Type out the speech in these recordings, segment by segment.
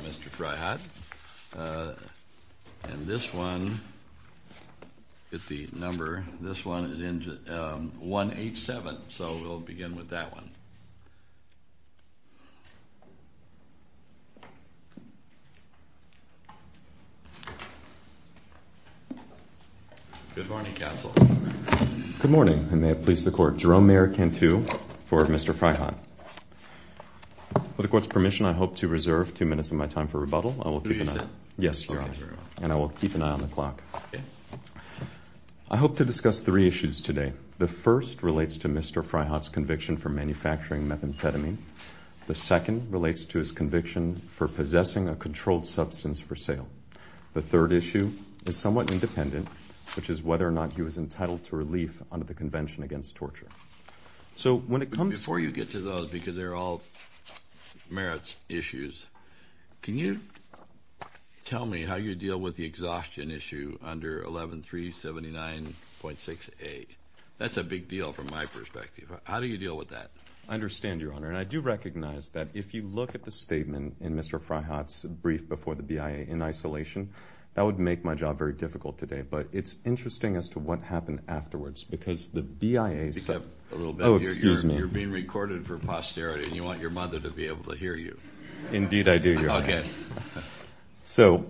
Mr. Fraihat. And this one, get the number. This one is 187. So we'll begin with that one. Good morning, counsel. Good morning. I may have pleased the court. Jerome Mayorkin, too, for Mr. Fraihat. With the court's permission, I hope to reserve two minutes of my time for rebuttal. Do you, sir? Yes, Your Honor. And I will keep an eye on the clock. I hope to discuss three issues today. The first relates to Mr. Fraihat's conviction for manufacturing methamphetamine. The second relates to his conviction for possessing a controlled substance for sale. The third issue is somewhat independent, which is whether or not he was entitled to relief under the Convention Against Torture. So when it comes to- Before you get to those, because they're all merits issues, can you tell me how you deal with the exhaustion issue under 11379.68? That's a big deal from my perspective. How do you deal with that? I understand, Your Honor. And I do recognize that if you look at the statement in Mr. Fraihat's brief before the BIA in isolation, that would make my job very difficult today. But it's interesting as to what happened afterwards, because the BIA said- You kept a little bit. Oh, excuse me. You're being recorded for posterity, and you want your mother to be able to hear you. Indeed, I do, Your Honor. OK. So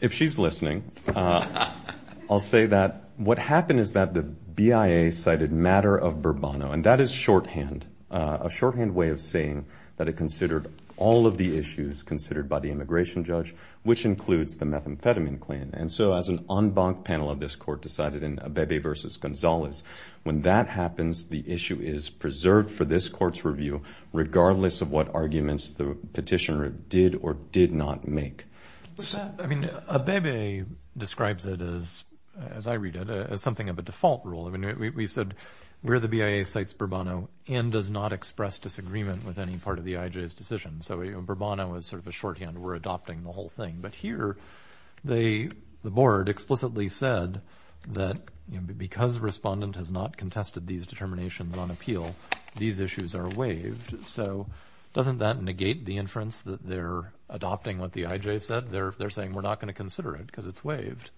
if she's listening, I'll say that what happened is that the BIA cited matter of Burbano. And that is shorthand, a shorthand way of saying that it considered all of the issues considered by the immigration judge, which includes the methamphetamine claim. And so as an en banc panel of this court decided in Abebe versus Gonzalez, when that happens, the issue is preserved for this court's review, regardless of what arguments the petitioner did or did not make. I mean, Abebe describes it as, as I read it, as something of a default rule. I mean, we said where the BIA cites Burbano and does not express disagreement with any part of the IJ's decision. So Burbano is sort of a shorthand. We're adopting the whole thing. But here, the board explicitly said that because the respondent has not contested these determinations on appeal, these issues are waived. So doesn't that negate the inference that they're adopting what the IJ said? They're saying we're not going to consider it because it's waived.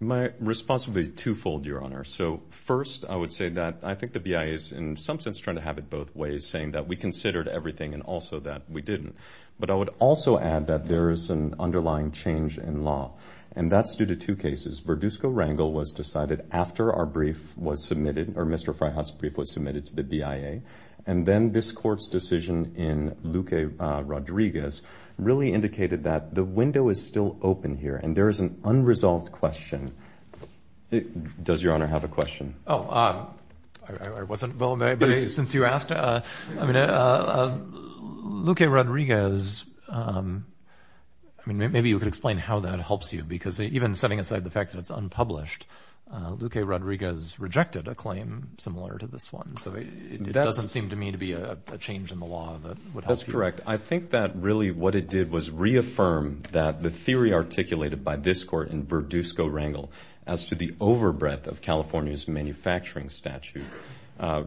My response would be twofold, Your Honor. So first, I would say that I think the BIA is, in some sense, trying to have it both ways, saying that we considered everything and also that we didn't. But I would also add that there is an underlying change in law. And that's due to two cases. Verdusco-Rangel was decided after our brief was submitted, or Mr. Fryhoff's brief was submitted to the BIA. And then this court's decision in Luque-Rodriguez really indicated that the window is still open here. And there is an unresolved question. Does Your Honor have a question? Oh, I wasn't well-made. Since you asked, I mean, Luque-Rodriguez, I mean, maybe you could explain how that helps you. Because even setting aside the fact that it's unpublished, Luque-Rodriguez rejected a claim similar to this one. So it doesn't seem to me to be a change in the law that would help you. That's correct. I think that really what it did was reaffirm that the theory articulated by this court in Verdusco-Rangel as to the overbreadth of California's manufacturing statute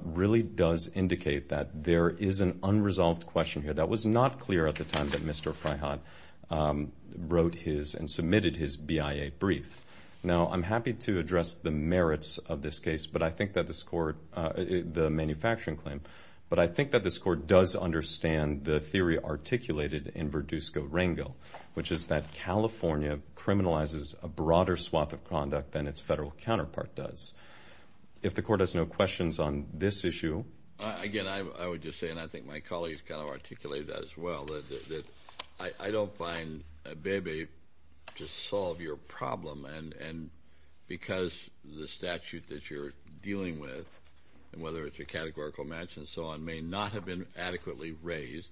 really does indicate that there is an unresolved question here. That was not clear at the time that Mr. Fryhoff wrote his and submitted his BIA brief. Now, I'm happy to address the merits of this case, but I think that this court, the manufacturing claim, but I think that this court does understand the theory articulated in Verdusco-Rangel, which is that California criminalizes a broader swath of conduct than its federal counterpart does. If the court has no questions on this issue. Again, I would just say, and I think my colleagues kind of articulated that as well, that I don't find ABEBE to solve your problem. And because the statute that you're dealing with, and whether it's a categorical match and so on, may not have been adequately raised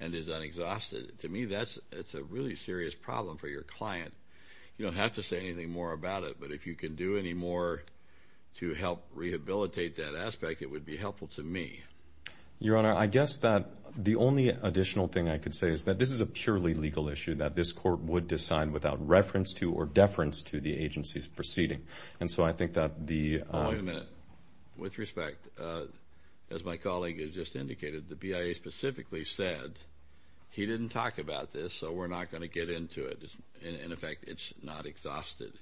and is unexhausted, to me that's a really serious problem for your client. You don't have to say anything more about it, but if you can do any more to help rehabilitate that aspect, it would be helpful to me. Your Honor, I guess that the only additional thing I could say is that this is a purely legal issue that this court would decide without reference to or deference to the agency's proceeding. And so I think that the- Wait a minute. With respect, as my colleague has just indicated, the BIA specifically said, he didn't talk about this, so we're not going to get into it. In effect, it's not exhausted.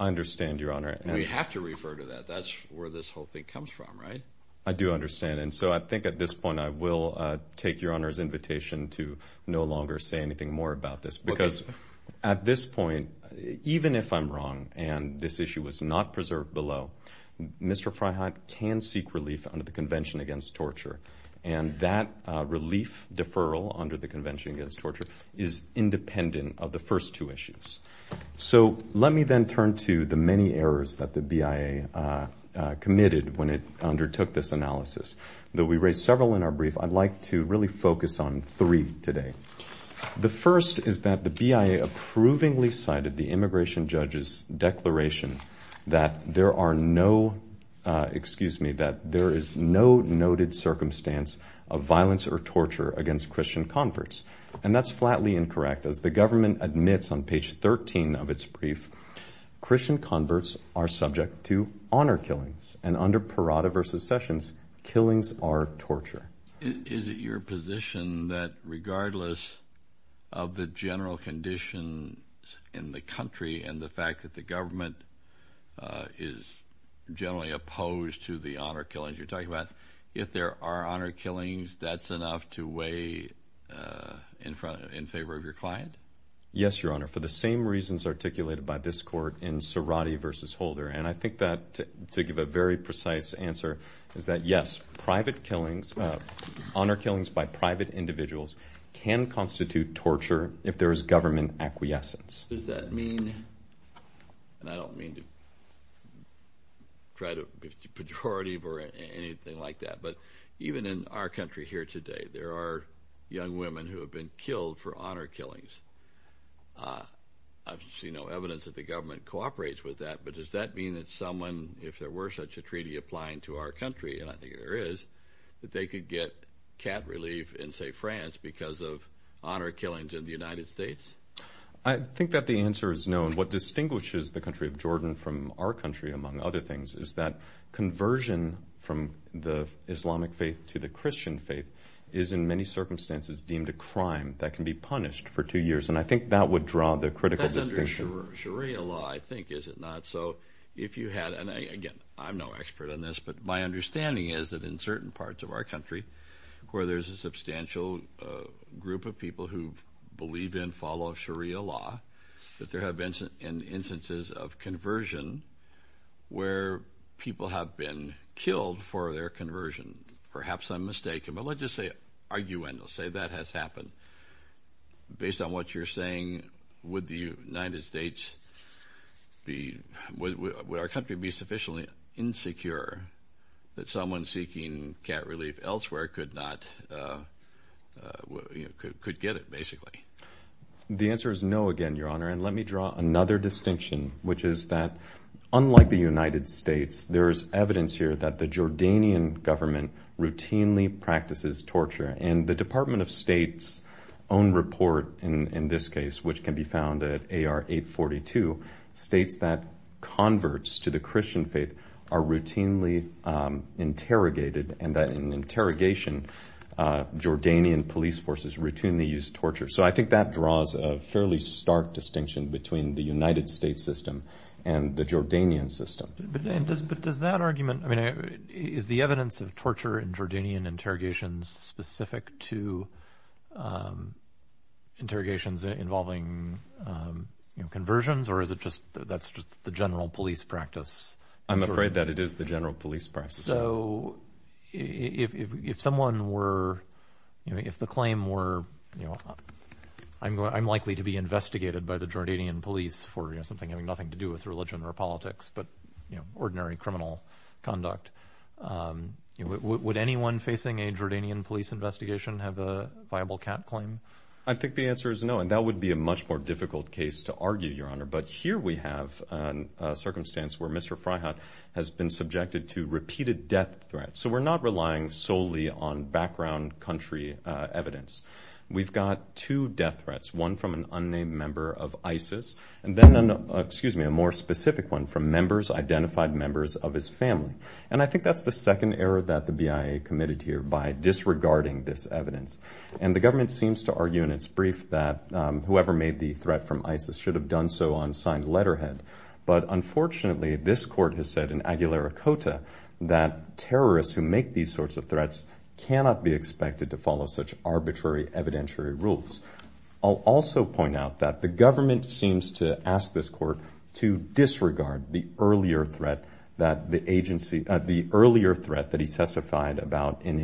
I understand, Your Honor. We have to refer to that. That's where this whole thing comes from, right? I do understand. And so I think at this point, I will take Your Honor's invitation to no longer say anything more about this, because at this point, even if I'm wrong and this issue was not preserved below, Mr. Freiheit can seek relief under the Convention Against Torture. And that relief deferral under the Convention Against Torture is independent of the first two issues. So let me then turn to the many errors that the BIA committed when it undertook this analysis. Though we raised several in our brief, I'd like to really focus on three today. The first is that the BIA approvingly cited the immigration judge's declaration that there are no, excuse me, that there is no noted circumstance of violence or torture against Christian converts. And that's flatly incorrect. As the government admits on page 13 of its brief, Christian converts are subject to honor killings. And under Parada v. Sessions, killings are torture. Is it your position that regardless of the general conditions in the country and the fact that the government is generally opposed to the honor killings you're talking about, if there are honor killings, that's enough to weigh in favor of your client? Yes, Your Honor. For the same reasons articulated by this court in Cerati v. Holder. And I think that, to give a very precise answer, is that yes, private killings, honor killings by private individuals can constitute torture if there is government acquiescence. Does that mean, and I don't mean to try to be pejorative or anything like that, but even in our country here today, there are young women who have been killed for honor killings. I've seen no evidence that the government cooperates with that, but does that mean that someone, if there were such a treaty applying to our country, and I think there is, that they could get cat relief in, say, France because of honor killings in the United States? I think that the answer is no. And what distinguishes the country of Jordan from our country, among other things, is that conversion from the Islamic faith to the Christian faith is, in many circumstances, deemed a crime that can be punished for two years. And I think that would draw the critical distinction. That's under Sharia law, I think, is it not? So if you had, and again, I'm no expert on this, but my understanding is that in certain parts of our country where there's a substantial group of people who believe in, follow Sharia law, that there have been instances of conversion where people have been killed for their conversion. Perhaps I'm mistaken, but let's just say, arguendo, say that has happened. Based on what you're saying, would the United States be, would our country be sufficiently insecure that someone seeking cat relief elsewhere could not, could get it, basically? The answer is no, again, Your Honor. And let me draw another distinction, which is that, unlike the United States, there is evidence here that the Jordanian government routinely practices torture. And the Department of State's own report in this case, which can be found at AR 842, states that converts to the Christian faith are routinely interrogated, and that in interrogation, Jordanian police forces routinely use torture. So I think that draws a fairly stark distinction between the United States system and the Jordanian system. But does that argument, I mean, is the evidence of torture in Jordanian interrogations specific to interrogations involving conversions, or is it just, that's just the general police practice? I'm afraid that it is the general police practice. So if someone were, if the claim were, I'm likely to be investigated by the Jordanian police for something having nothing to do with religion or politics, but ordinary criminal conduct. Would anyone facing a Jordanian police investigation have a viable cap claim? I think the answer is no, and that would be a much more difficult case to argue, Your Honor. But here we have a circumstance where Mr. Freyhat has been subjected to repeated death threats. So we're not relying solely on background country evidence. We've got two death threats, one from an unnamed member of ISIS, and then, excuse me, a more specific one from members, identified members of his family. And I think that's the second error that the BIA committed here by disregarding this evidence. And the government seems to argue in its brief that whoever made the threat from ISIS should have done so on signed letterhead. But unfortunately, this court has said in Aguilaricota that terrorists who make these sorts of threats cannot be expected to follow such arbitrary evidentiary rules. I'll also point out that the government seems to ask this court to disregard the earlier threat that the agency, the earlier threat that he testified about in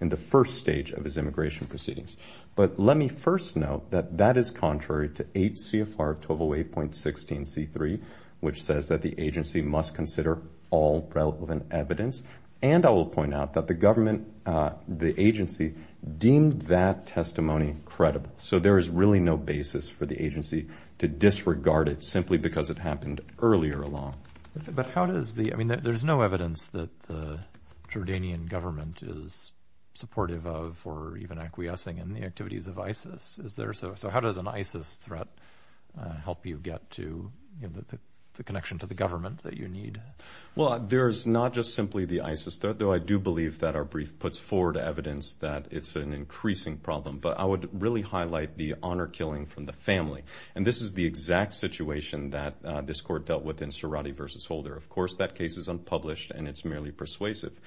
the first stage of his immigration proceedings. But let me first note that that is contrary to 8 CFR 1208.16 C3, which says that the agency must consider all relevant evidence. And I will point out that the government, the agency deemed that testimony credible. So there is really no basis for the agency to disregard it simply because it happened earlier along. But how does the, I mean, there's no evidence that the Jordanian government is supportive of or even acquiescing in the activities of ISIS, is there? So how does an ISIS threat help you get to the connection to the government that you need? Well, there's not just simply the ISIS threat, though I do believe that our brief puts forward evidence that it's an increasing problem. But I would really highlight the honor killing from the family. And this is the exact situation that this court dealt with in Cerati versus Holder. Of course, that case is unpublished and it's merely persuasive.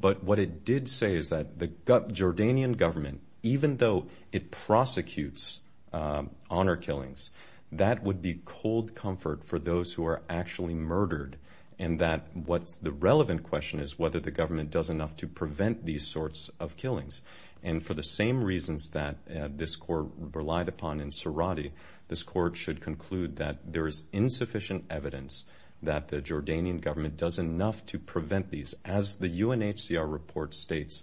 But what it did say is that the Jordanian government, even though it prosecutes honor killings, that would be cold comfort for those who are actually murdered. And that what's the relevant question is whether the government does enough to prevent these sorts of killings. And for the same reasons that this court relied upon in Cerati, this court should conclude that there is insufficient evidence that the Jordanian government does enough to prevent these. As the UNHCR report states,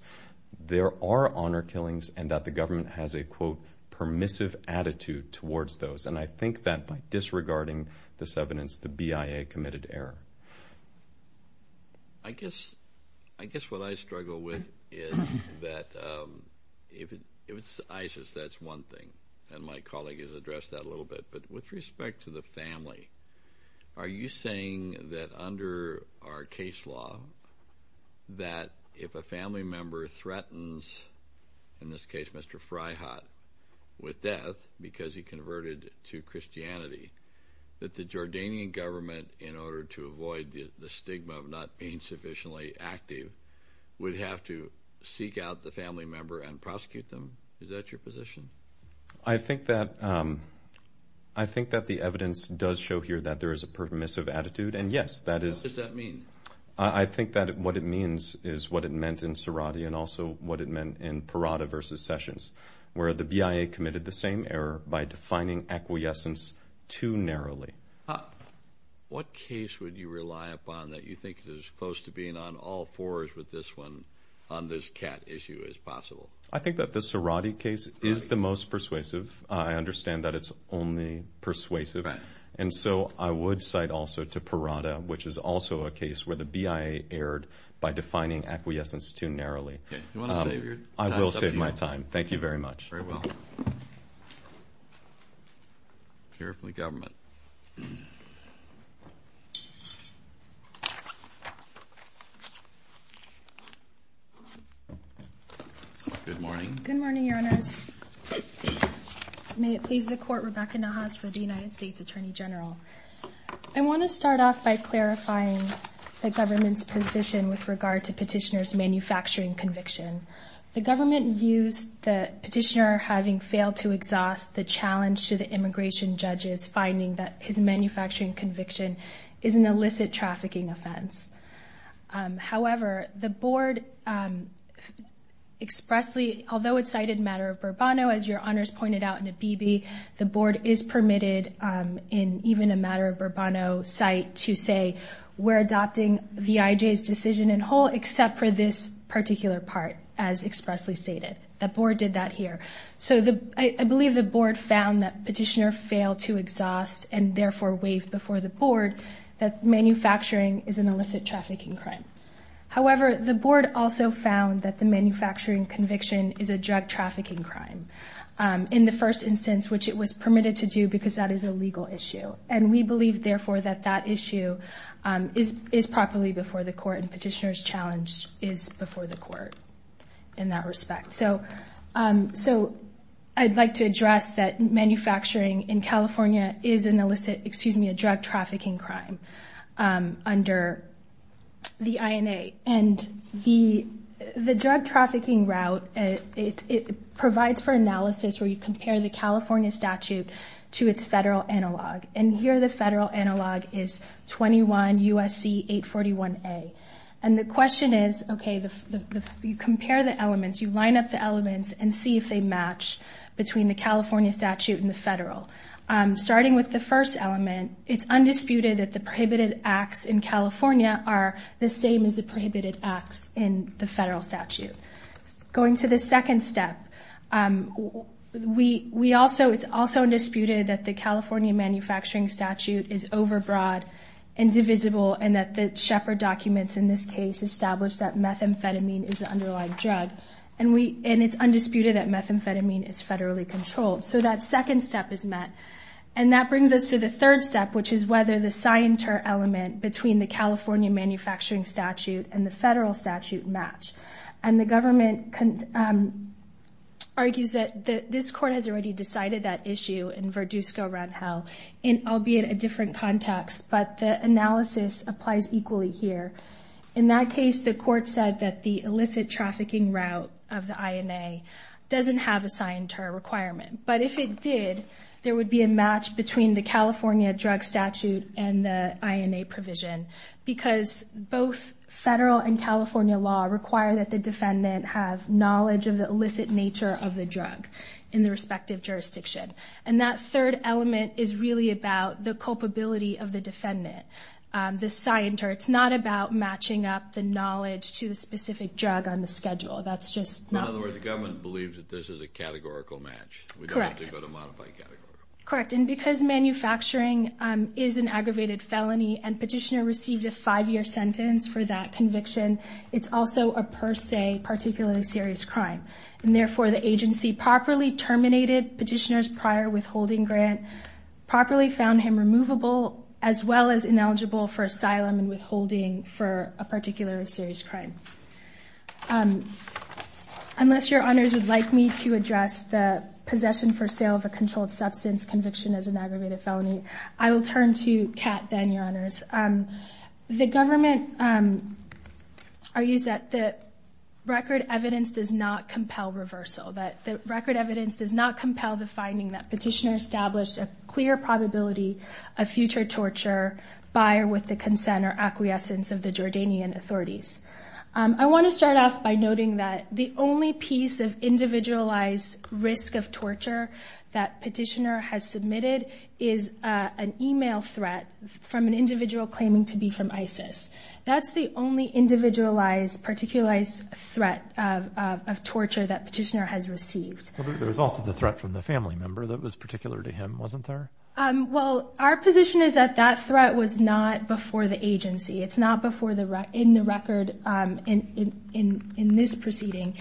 there are honor killings and that the government has a, quote, permissive attitude towards those. And I think that by disregarding this evidence, the BIA committed error. I guess what I struggle with is that if it's ISIS, that's one thing. And my colleague has addressed that a little bit. But with respect to the family, are you saying that under our case law, that if a family member threatens, in this case, Mr. Fryhat, with death because he converted to Christianity, that the Jordanian government, in order to avoid the stigma of not being sufficiently active, would have to seek out the family member and prosecute them? Is that your position? I think that the evidence does show here that there is a permissive attitude. And yes, that is. What does that mean? I think that what it means is what it meant in Cerati and also what it meant in Parada versus Sessions, where the BIA committed the same error by defining acquiescence too narrowly. What case would you rely upon that you think is close to being on all fours with this one on this cat issue as possible? I think that the Cerati case is the most persuasive. I understand that it's only persuasive. And so I would cite also to Parada, which is also a case where the BIA erred by defining acquiescence too narrowly. You wanna save your time? I will save my time. Thank you very much. Very well. Hear from the government. Thank you. Good morning. Good morning, your honors. May it please the court, Rebecca Nahas for the United States Attorney General. I wanna start off by clarifying the government's position with regard to petitioner's manufacturing conviction. The government used the petitioner having failed to exhaust the challenge to the immigration judges, finding that his manufacturing conviction is an illicit trafficking offense. However, the board expressly, although it's cited matter of Burbano, as your honors pointed out in the BB, the board is permitted in even a matter of Burbano site to say we're adopting the VIJ's decision in whole, except for this particular part, as expressly stated. The board did that here. So I believe the board found that petitioner failed to exhaust and therefore waived before the board that manufacturing is an illicit trafficking crime. However, the board also found that the manufacturing conviction is a drug trafficking crime in the first instance, which it was permitted to do because that is a legal issue. And we believe therefore that that issue is properly before the court and petitioner's challenge is before the court in that respect. So I'd like to address that manufacturing in California is an illicit, excuse me, a drug trafficking crime under the INA. And the drug trafficking route, it provides for analysis where you compare the California statute to its federal analog. And here the federal analog is 21 USC 841A. And the question is, okay, you compare the elements, you line up the elements and see if they match between the California statute and the federal. Starting with the first element, it's undisputed that the prohibited acts in California are the same as the prohibited acts in the federal statute. Going to the second step, it's also disputed that the California manufacturing statute is overbroad and divisible and that the Shepard documents in this case established that methamphetamine is the underlying drug. And it's undisputed that methamphetamine is federally controlled. So that second step is met. And that brings us to the third step, which is whether the scienter element between the California manufacturing statute and the federal statute match. And the government argues that this court has already decided that issue in Verdusco-Rangel, albeit a different context, but the analysis applies equally here. In that case, the court said that the illicit trafficking route of the INA doesn't have a scienter requirement. But if it did, there would be a match between the California drug statute and the INA provision because both federal and California law require that the defendant have knowledge of the illicit nature of the drug in the respective jurisdiction. And that third element is really about the culpability of the defendant. The scienter, it's not about matching up the knowledge to the specific drug on the schedule. That's just not- In other words, the government believes that this is a categorical match. We don't have to go to modify category. Correct, and because manufacturing is an aggravated felony and petitioner received a five-year sentence for that conviction, it's also a per se, particularly serious crime. And therefore, the agency properly terminated petitioner's prior withholding grant, properly found him removable, as well as ineligible for asylum and withholding for a particular serious crime. Unless your honors would like me to address the possession for sale of a controlled substance conviction as an aggravated felony, I will turn to Kat then, your honors. The government argues that the record evidence does not compel reversal. That the record evidence does not compel the finding that petitioner established a clear probability of future torture by or with the consent or acquiescence of the Jordanian authorities. I want to start off by noting that the only piece of individualized risk of torture that petitioner has submitted is an email threat from an individual claiming to be from ISIS. That's the only individualized, particularized threat of torture that petitioner has received. There's also the threat from the family member that was particular to him, wasn't there? Well, our position is that that threat was not before the agency. It's not in the record in this proceeding.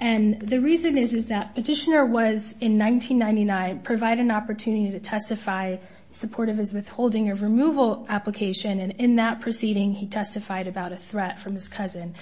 And the reason is, is that petitioner was, in 1999, provided an opportunity to testify supportive of his withholding or removal application. And in that proceeding, he testified about a threat from his cousin.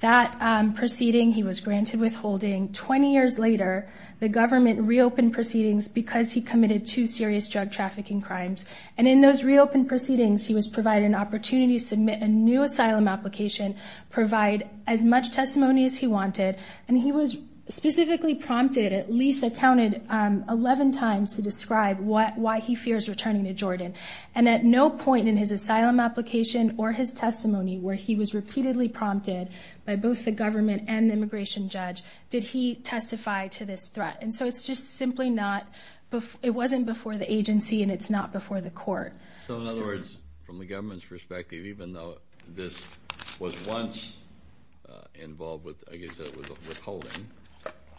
That proceeding, he was granted withholding. 20 years later, the government reopened proceedings because he committed two serious drug trafficking crimes. And in those reopened proceedings, he was provided an opportunity to submit a new asylum application, provide as much testimony as he wanted. And he was specifically prompted, at least accounted 11 times, to describe why he fears returning to Jordan. And at no point in his asylum application or his testimony where he was repeatedly prompted by both the government and the immigration judge did he testify to this threat. And so it's just simply not, it wasn't before the agency and it's not before the court. So in other words, from the government's perspective, even though this was once involved with, I guess it was withholding,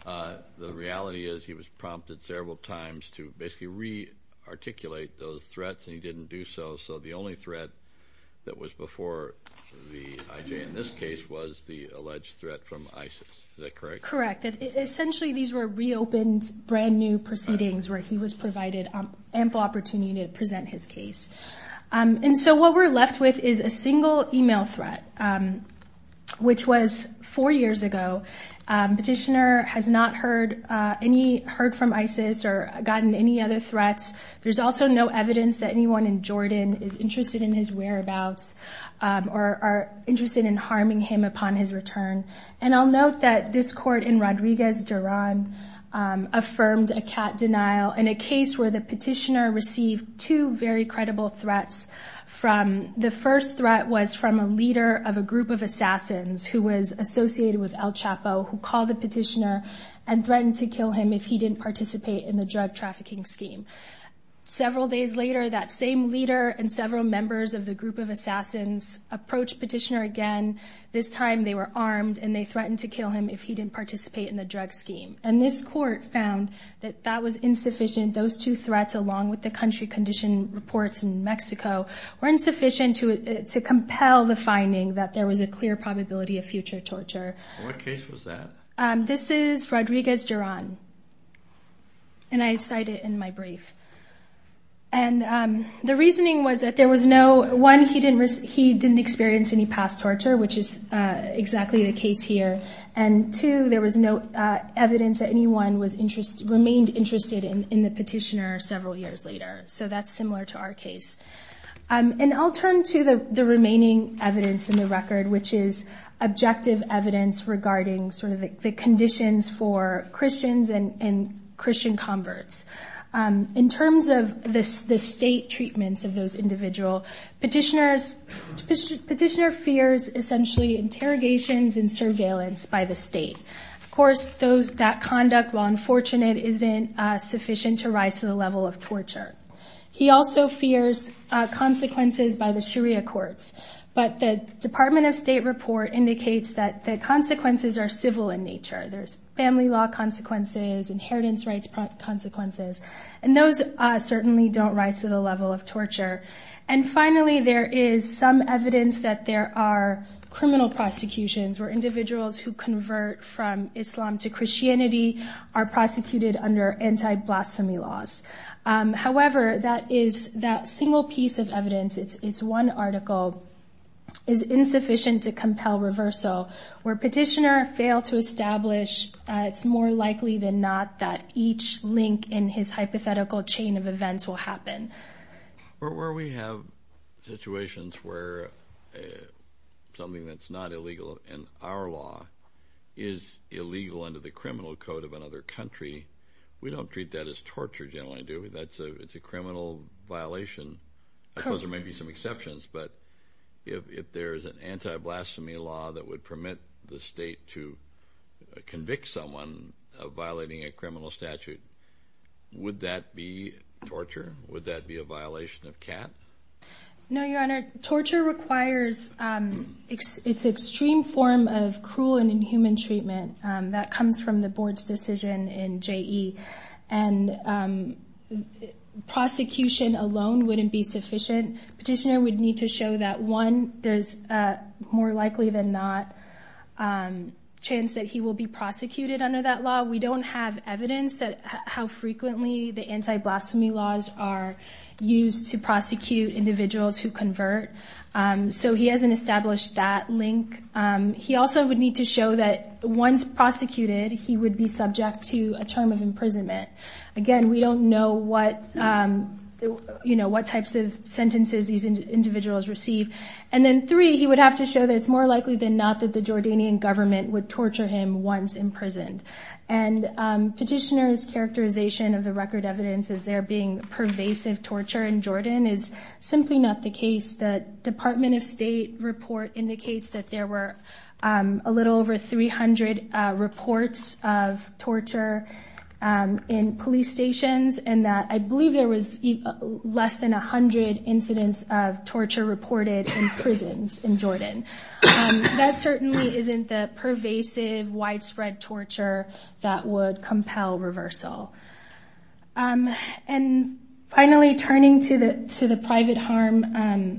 the reality is he was prompted several times to basically re-articulate those threats and he didn't do so. So the only threat that was before the IJ in this case was the alleged threat from ISIS. Is that correct? Correct. Essentially these were reopened brand new proceedings where he was provided ample opportunity to present his case. And so what we're left with is a single email threat, which was four years ago. Petitioner has not heard from ISIS or gotten any other threats. There's also no evidence that anyone in Jordan is interested in his whereabouts or are interested in harming him upon his return. And I'll note that this court in Rodriguez, Joran affirmed a cat denial in a case where the petitioner received two very credible threats. The first threat was from a leader of a group of assassins who was associated with El Chapo, who called the petitioner and threatened to kill him if he didn't participate in the drug trafficking scheme. Several days later, that same leader and several members of the group of assassins approached petitioner again. This time they were armed and they threatened to kill him if he didn't participate in the drug scheme. And this court found that that was insufficient. Those two threats, along with the country condition reports in Mexico, were insufficient to compel the finding that there was a clear probability of future torture. What case was that? This is Rodriguez, Joran. And I cite it in my brief. And the reasoning was that there was no, one, he didn't experience any past torture, which is exactly the case here. And two, there was no evidence that anyone remained interested in the petitioner several years later. So that's similar to our case. And I'll turn to the remaining evidence in the record, which is objective evidence regarding sort of the conditions for Christians and Christian converts. In terms of the state treatments of those individual, petitioner fears essentially interrogations and surveillance by the state. Of course, that conduct, while unfortunate, isn't sufficient to rise to the level of torture. He also fears consequences by the Sharia courts. But the Department of State report indicates that the consequences are civil in nature. There's family law consequences, inheritance rights consequences. And those certainly don't rise to the level of torture. And finally, there is some evidence that there are criminal prosecutions where individuals who convert from Islam to Christianity are prosecuted under anti-blasphemy laws. However, that is, that single piece of evidence, it's one article, is insufficient to compel reversal. Where petitioner failed to establish, it's more likely than not that each link in his hypothetical chain of events will happen. Where we have situations where something that's not illegal in our law is illegal under the criminal code of another country, we don't treat that as torture generally, do we? That's a criminal violation. I suppose there may be some exceptions, but if there's an anti-blasphemy law that would permit the state to convict someone of violating a criminal statute, would that be torture? Would that be a violation of CAT? No, Your Honor. Torture requires, it's extreme form of cruel and inhuman treatment that comes from the board's decision in JE. And prosecution alone wouldn't be sufficient. Petitioner would need to show that, one, there's a more likely than not chance that he will be prosecuted under that law. We don't have evidence that how frequently the anti-blasphemy laws are used to prosecute individuals who convert. So he hasn't established that link. He also would need to show that once prosecuted, he would be subject to a term of imprisonment. Again, we don't know what types of sentences these individuals receive. And then three, he would have to show that it's more likely than not that the Jordanian government would torture him once imprisoned. And petitioner's characterization of the record evidence as there being pervasive torture in Jordan is simply not the case. The Department of State report indicates that there were a little over 300 reports of torture in police stations, and that I believe there was less than 100 incidents of torture reported in prisons in Jordan. That certainly isn't the pervasive widespread torture that would compel reversal. And finally, turning to the private harm,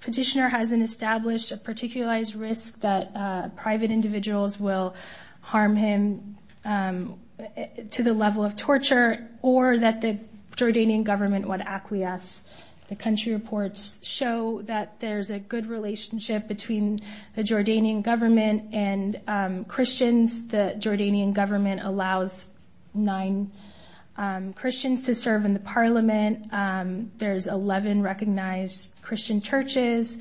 petitioner hasn't established a particularized risk that private individuals will harm him to the level of torture, or that the Jordanian government would acquiesce. The country reports show that there's a good relationship between the Jordanian government and Christians. The Jordanian government allows nine Christians to serve in the parliament. There's 11 recognized Christian churches.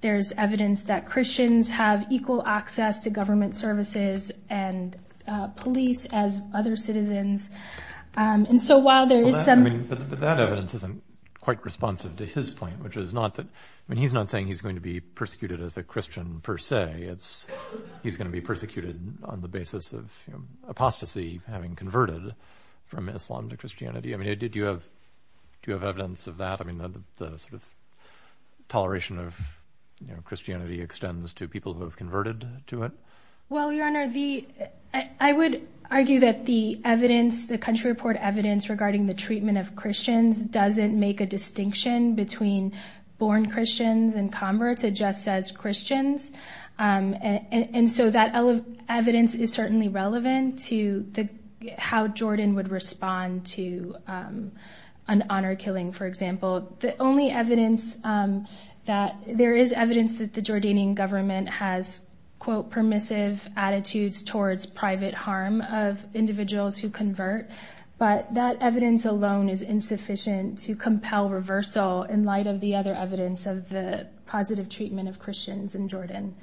There's evidence that Christians have equal access to government services and police as other citizens. And so while there is some- I'm not responsive to his point, which is not that, I mean, he's not saying he's going to be persecuted as a Christian per se, it's he's going to be persecuted on the basis of apostasy having converted from Islam to Christianity. I mean, do you have evidence of that? I mean, the sort of toleration of Christianity extends to people who have converted to it. Well, Your Honor, I would argue that the evidence, the country report evidence regarding the treatment of Christians doesn't make a distinction between born Christians and converts, it just says Christians. And so that evidence is certainly relevant to how Jordan would respond to an honor killing, for example. The only evidence that- there is evidence that the Jordanian government has, quote, permissive attitudes towards private harm of individuals who convert, but that evidence alone is insufficient to compel reversal in light of the other evidence of the positive treatment of Christians in Jordan.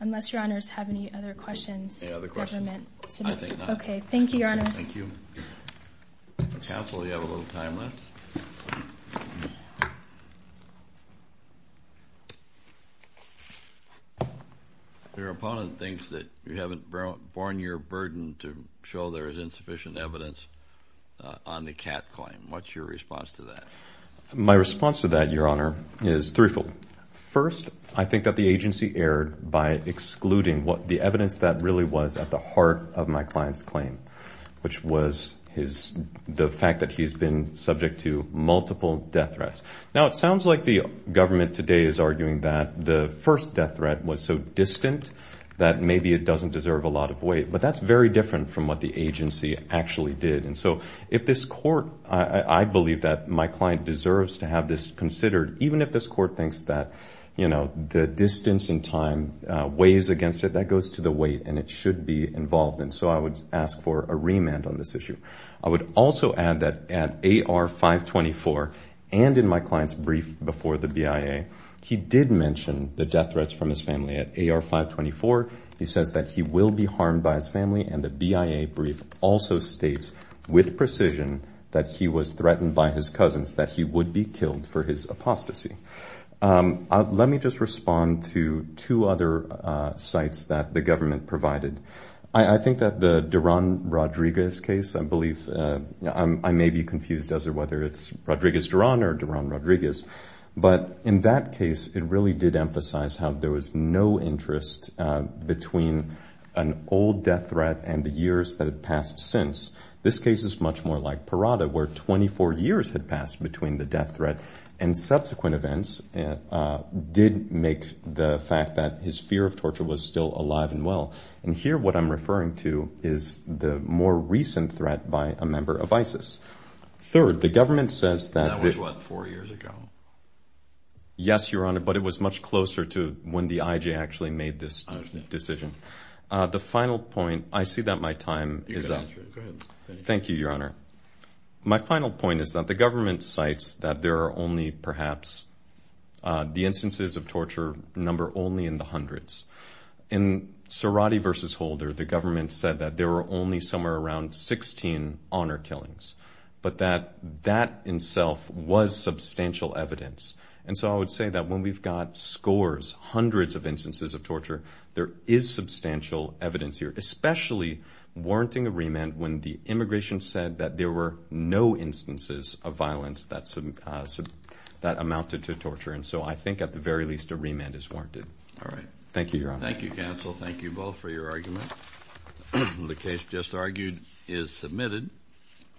Unless Your Honors have any other questions. Any other questions? Government submits. I think not. Okay, thank you, Your Honors. Thank you. Counsel, you have a little time left. Your opponent thinks that you haven't borne your burden to show there is insufficient evidence on the Kat claim. What's your response to that? My response to that, Your Honor, is threefold. First, I think that the agency erred by excluding what the evidence that really was at the heart of my client's claim, which was the fact that he's been subject to multiple death threats. Now, it sounds like the government today is arguing that the first death threat was so distant that maybe it doesn't deserve a lot of weight, but that's very different from what the agency actually did. And so if this court, I believe that my client deserves to have this considered, even if this court thinks that the distance in time weighs against it, that goes to the weight and it should be involved in. So I would ask for a remand on this issue. I would also add that at AR-524 and in my client's brief before the BIA, he did mention the death threats from his family. At AR-524, he says that he will be harmed by his family and the BIA brief also states with precision that he was threatened by his cousins, that he would be killed for his apostasy. Let me just respond to two other sites that the government provided. I think that the Duran-Rodriguez case, I believe, I may be confused as to whether it's Rodriguez-Duran or Duran-Rodriguez, but in that case, it really did emphasize how there was no interest between an old death threat and the years that had passed since. This case is much more like Parada, where 24 years had passed between the death threat and subsequent events did make the fact that his fear of torture was still alive and well. And here, what I'm referring to is the more recent threat by a member of ISIS. Third, the government says that- That was, what, four years ago? Yes, Your Honor, but it was much closer to when the IJ actually made this decision. The final point, I see that my time is up. Thank you, Your Honor. My final point is that the government cites that there are only perhaps the instances of torture number only in the hundreds. In Cerati versus Holder, the government said that there were only somewhere around 16 honor killings, but that that in itself was substantial evidence. And so I would say that when we've got scores, hundreds of instances of torture, there is substantial evidence here, especially warranting a remand when the immigration said that there were no instances of violence that amounted to torture. And so I think at the very least, a remand is warranted. All right, thank you, Your Honor. Thank you, counsel. Thank you both for your argument. The case just argued is submitted.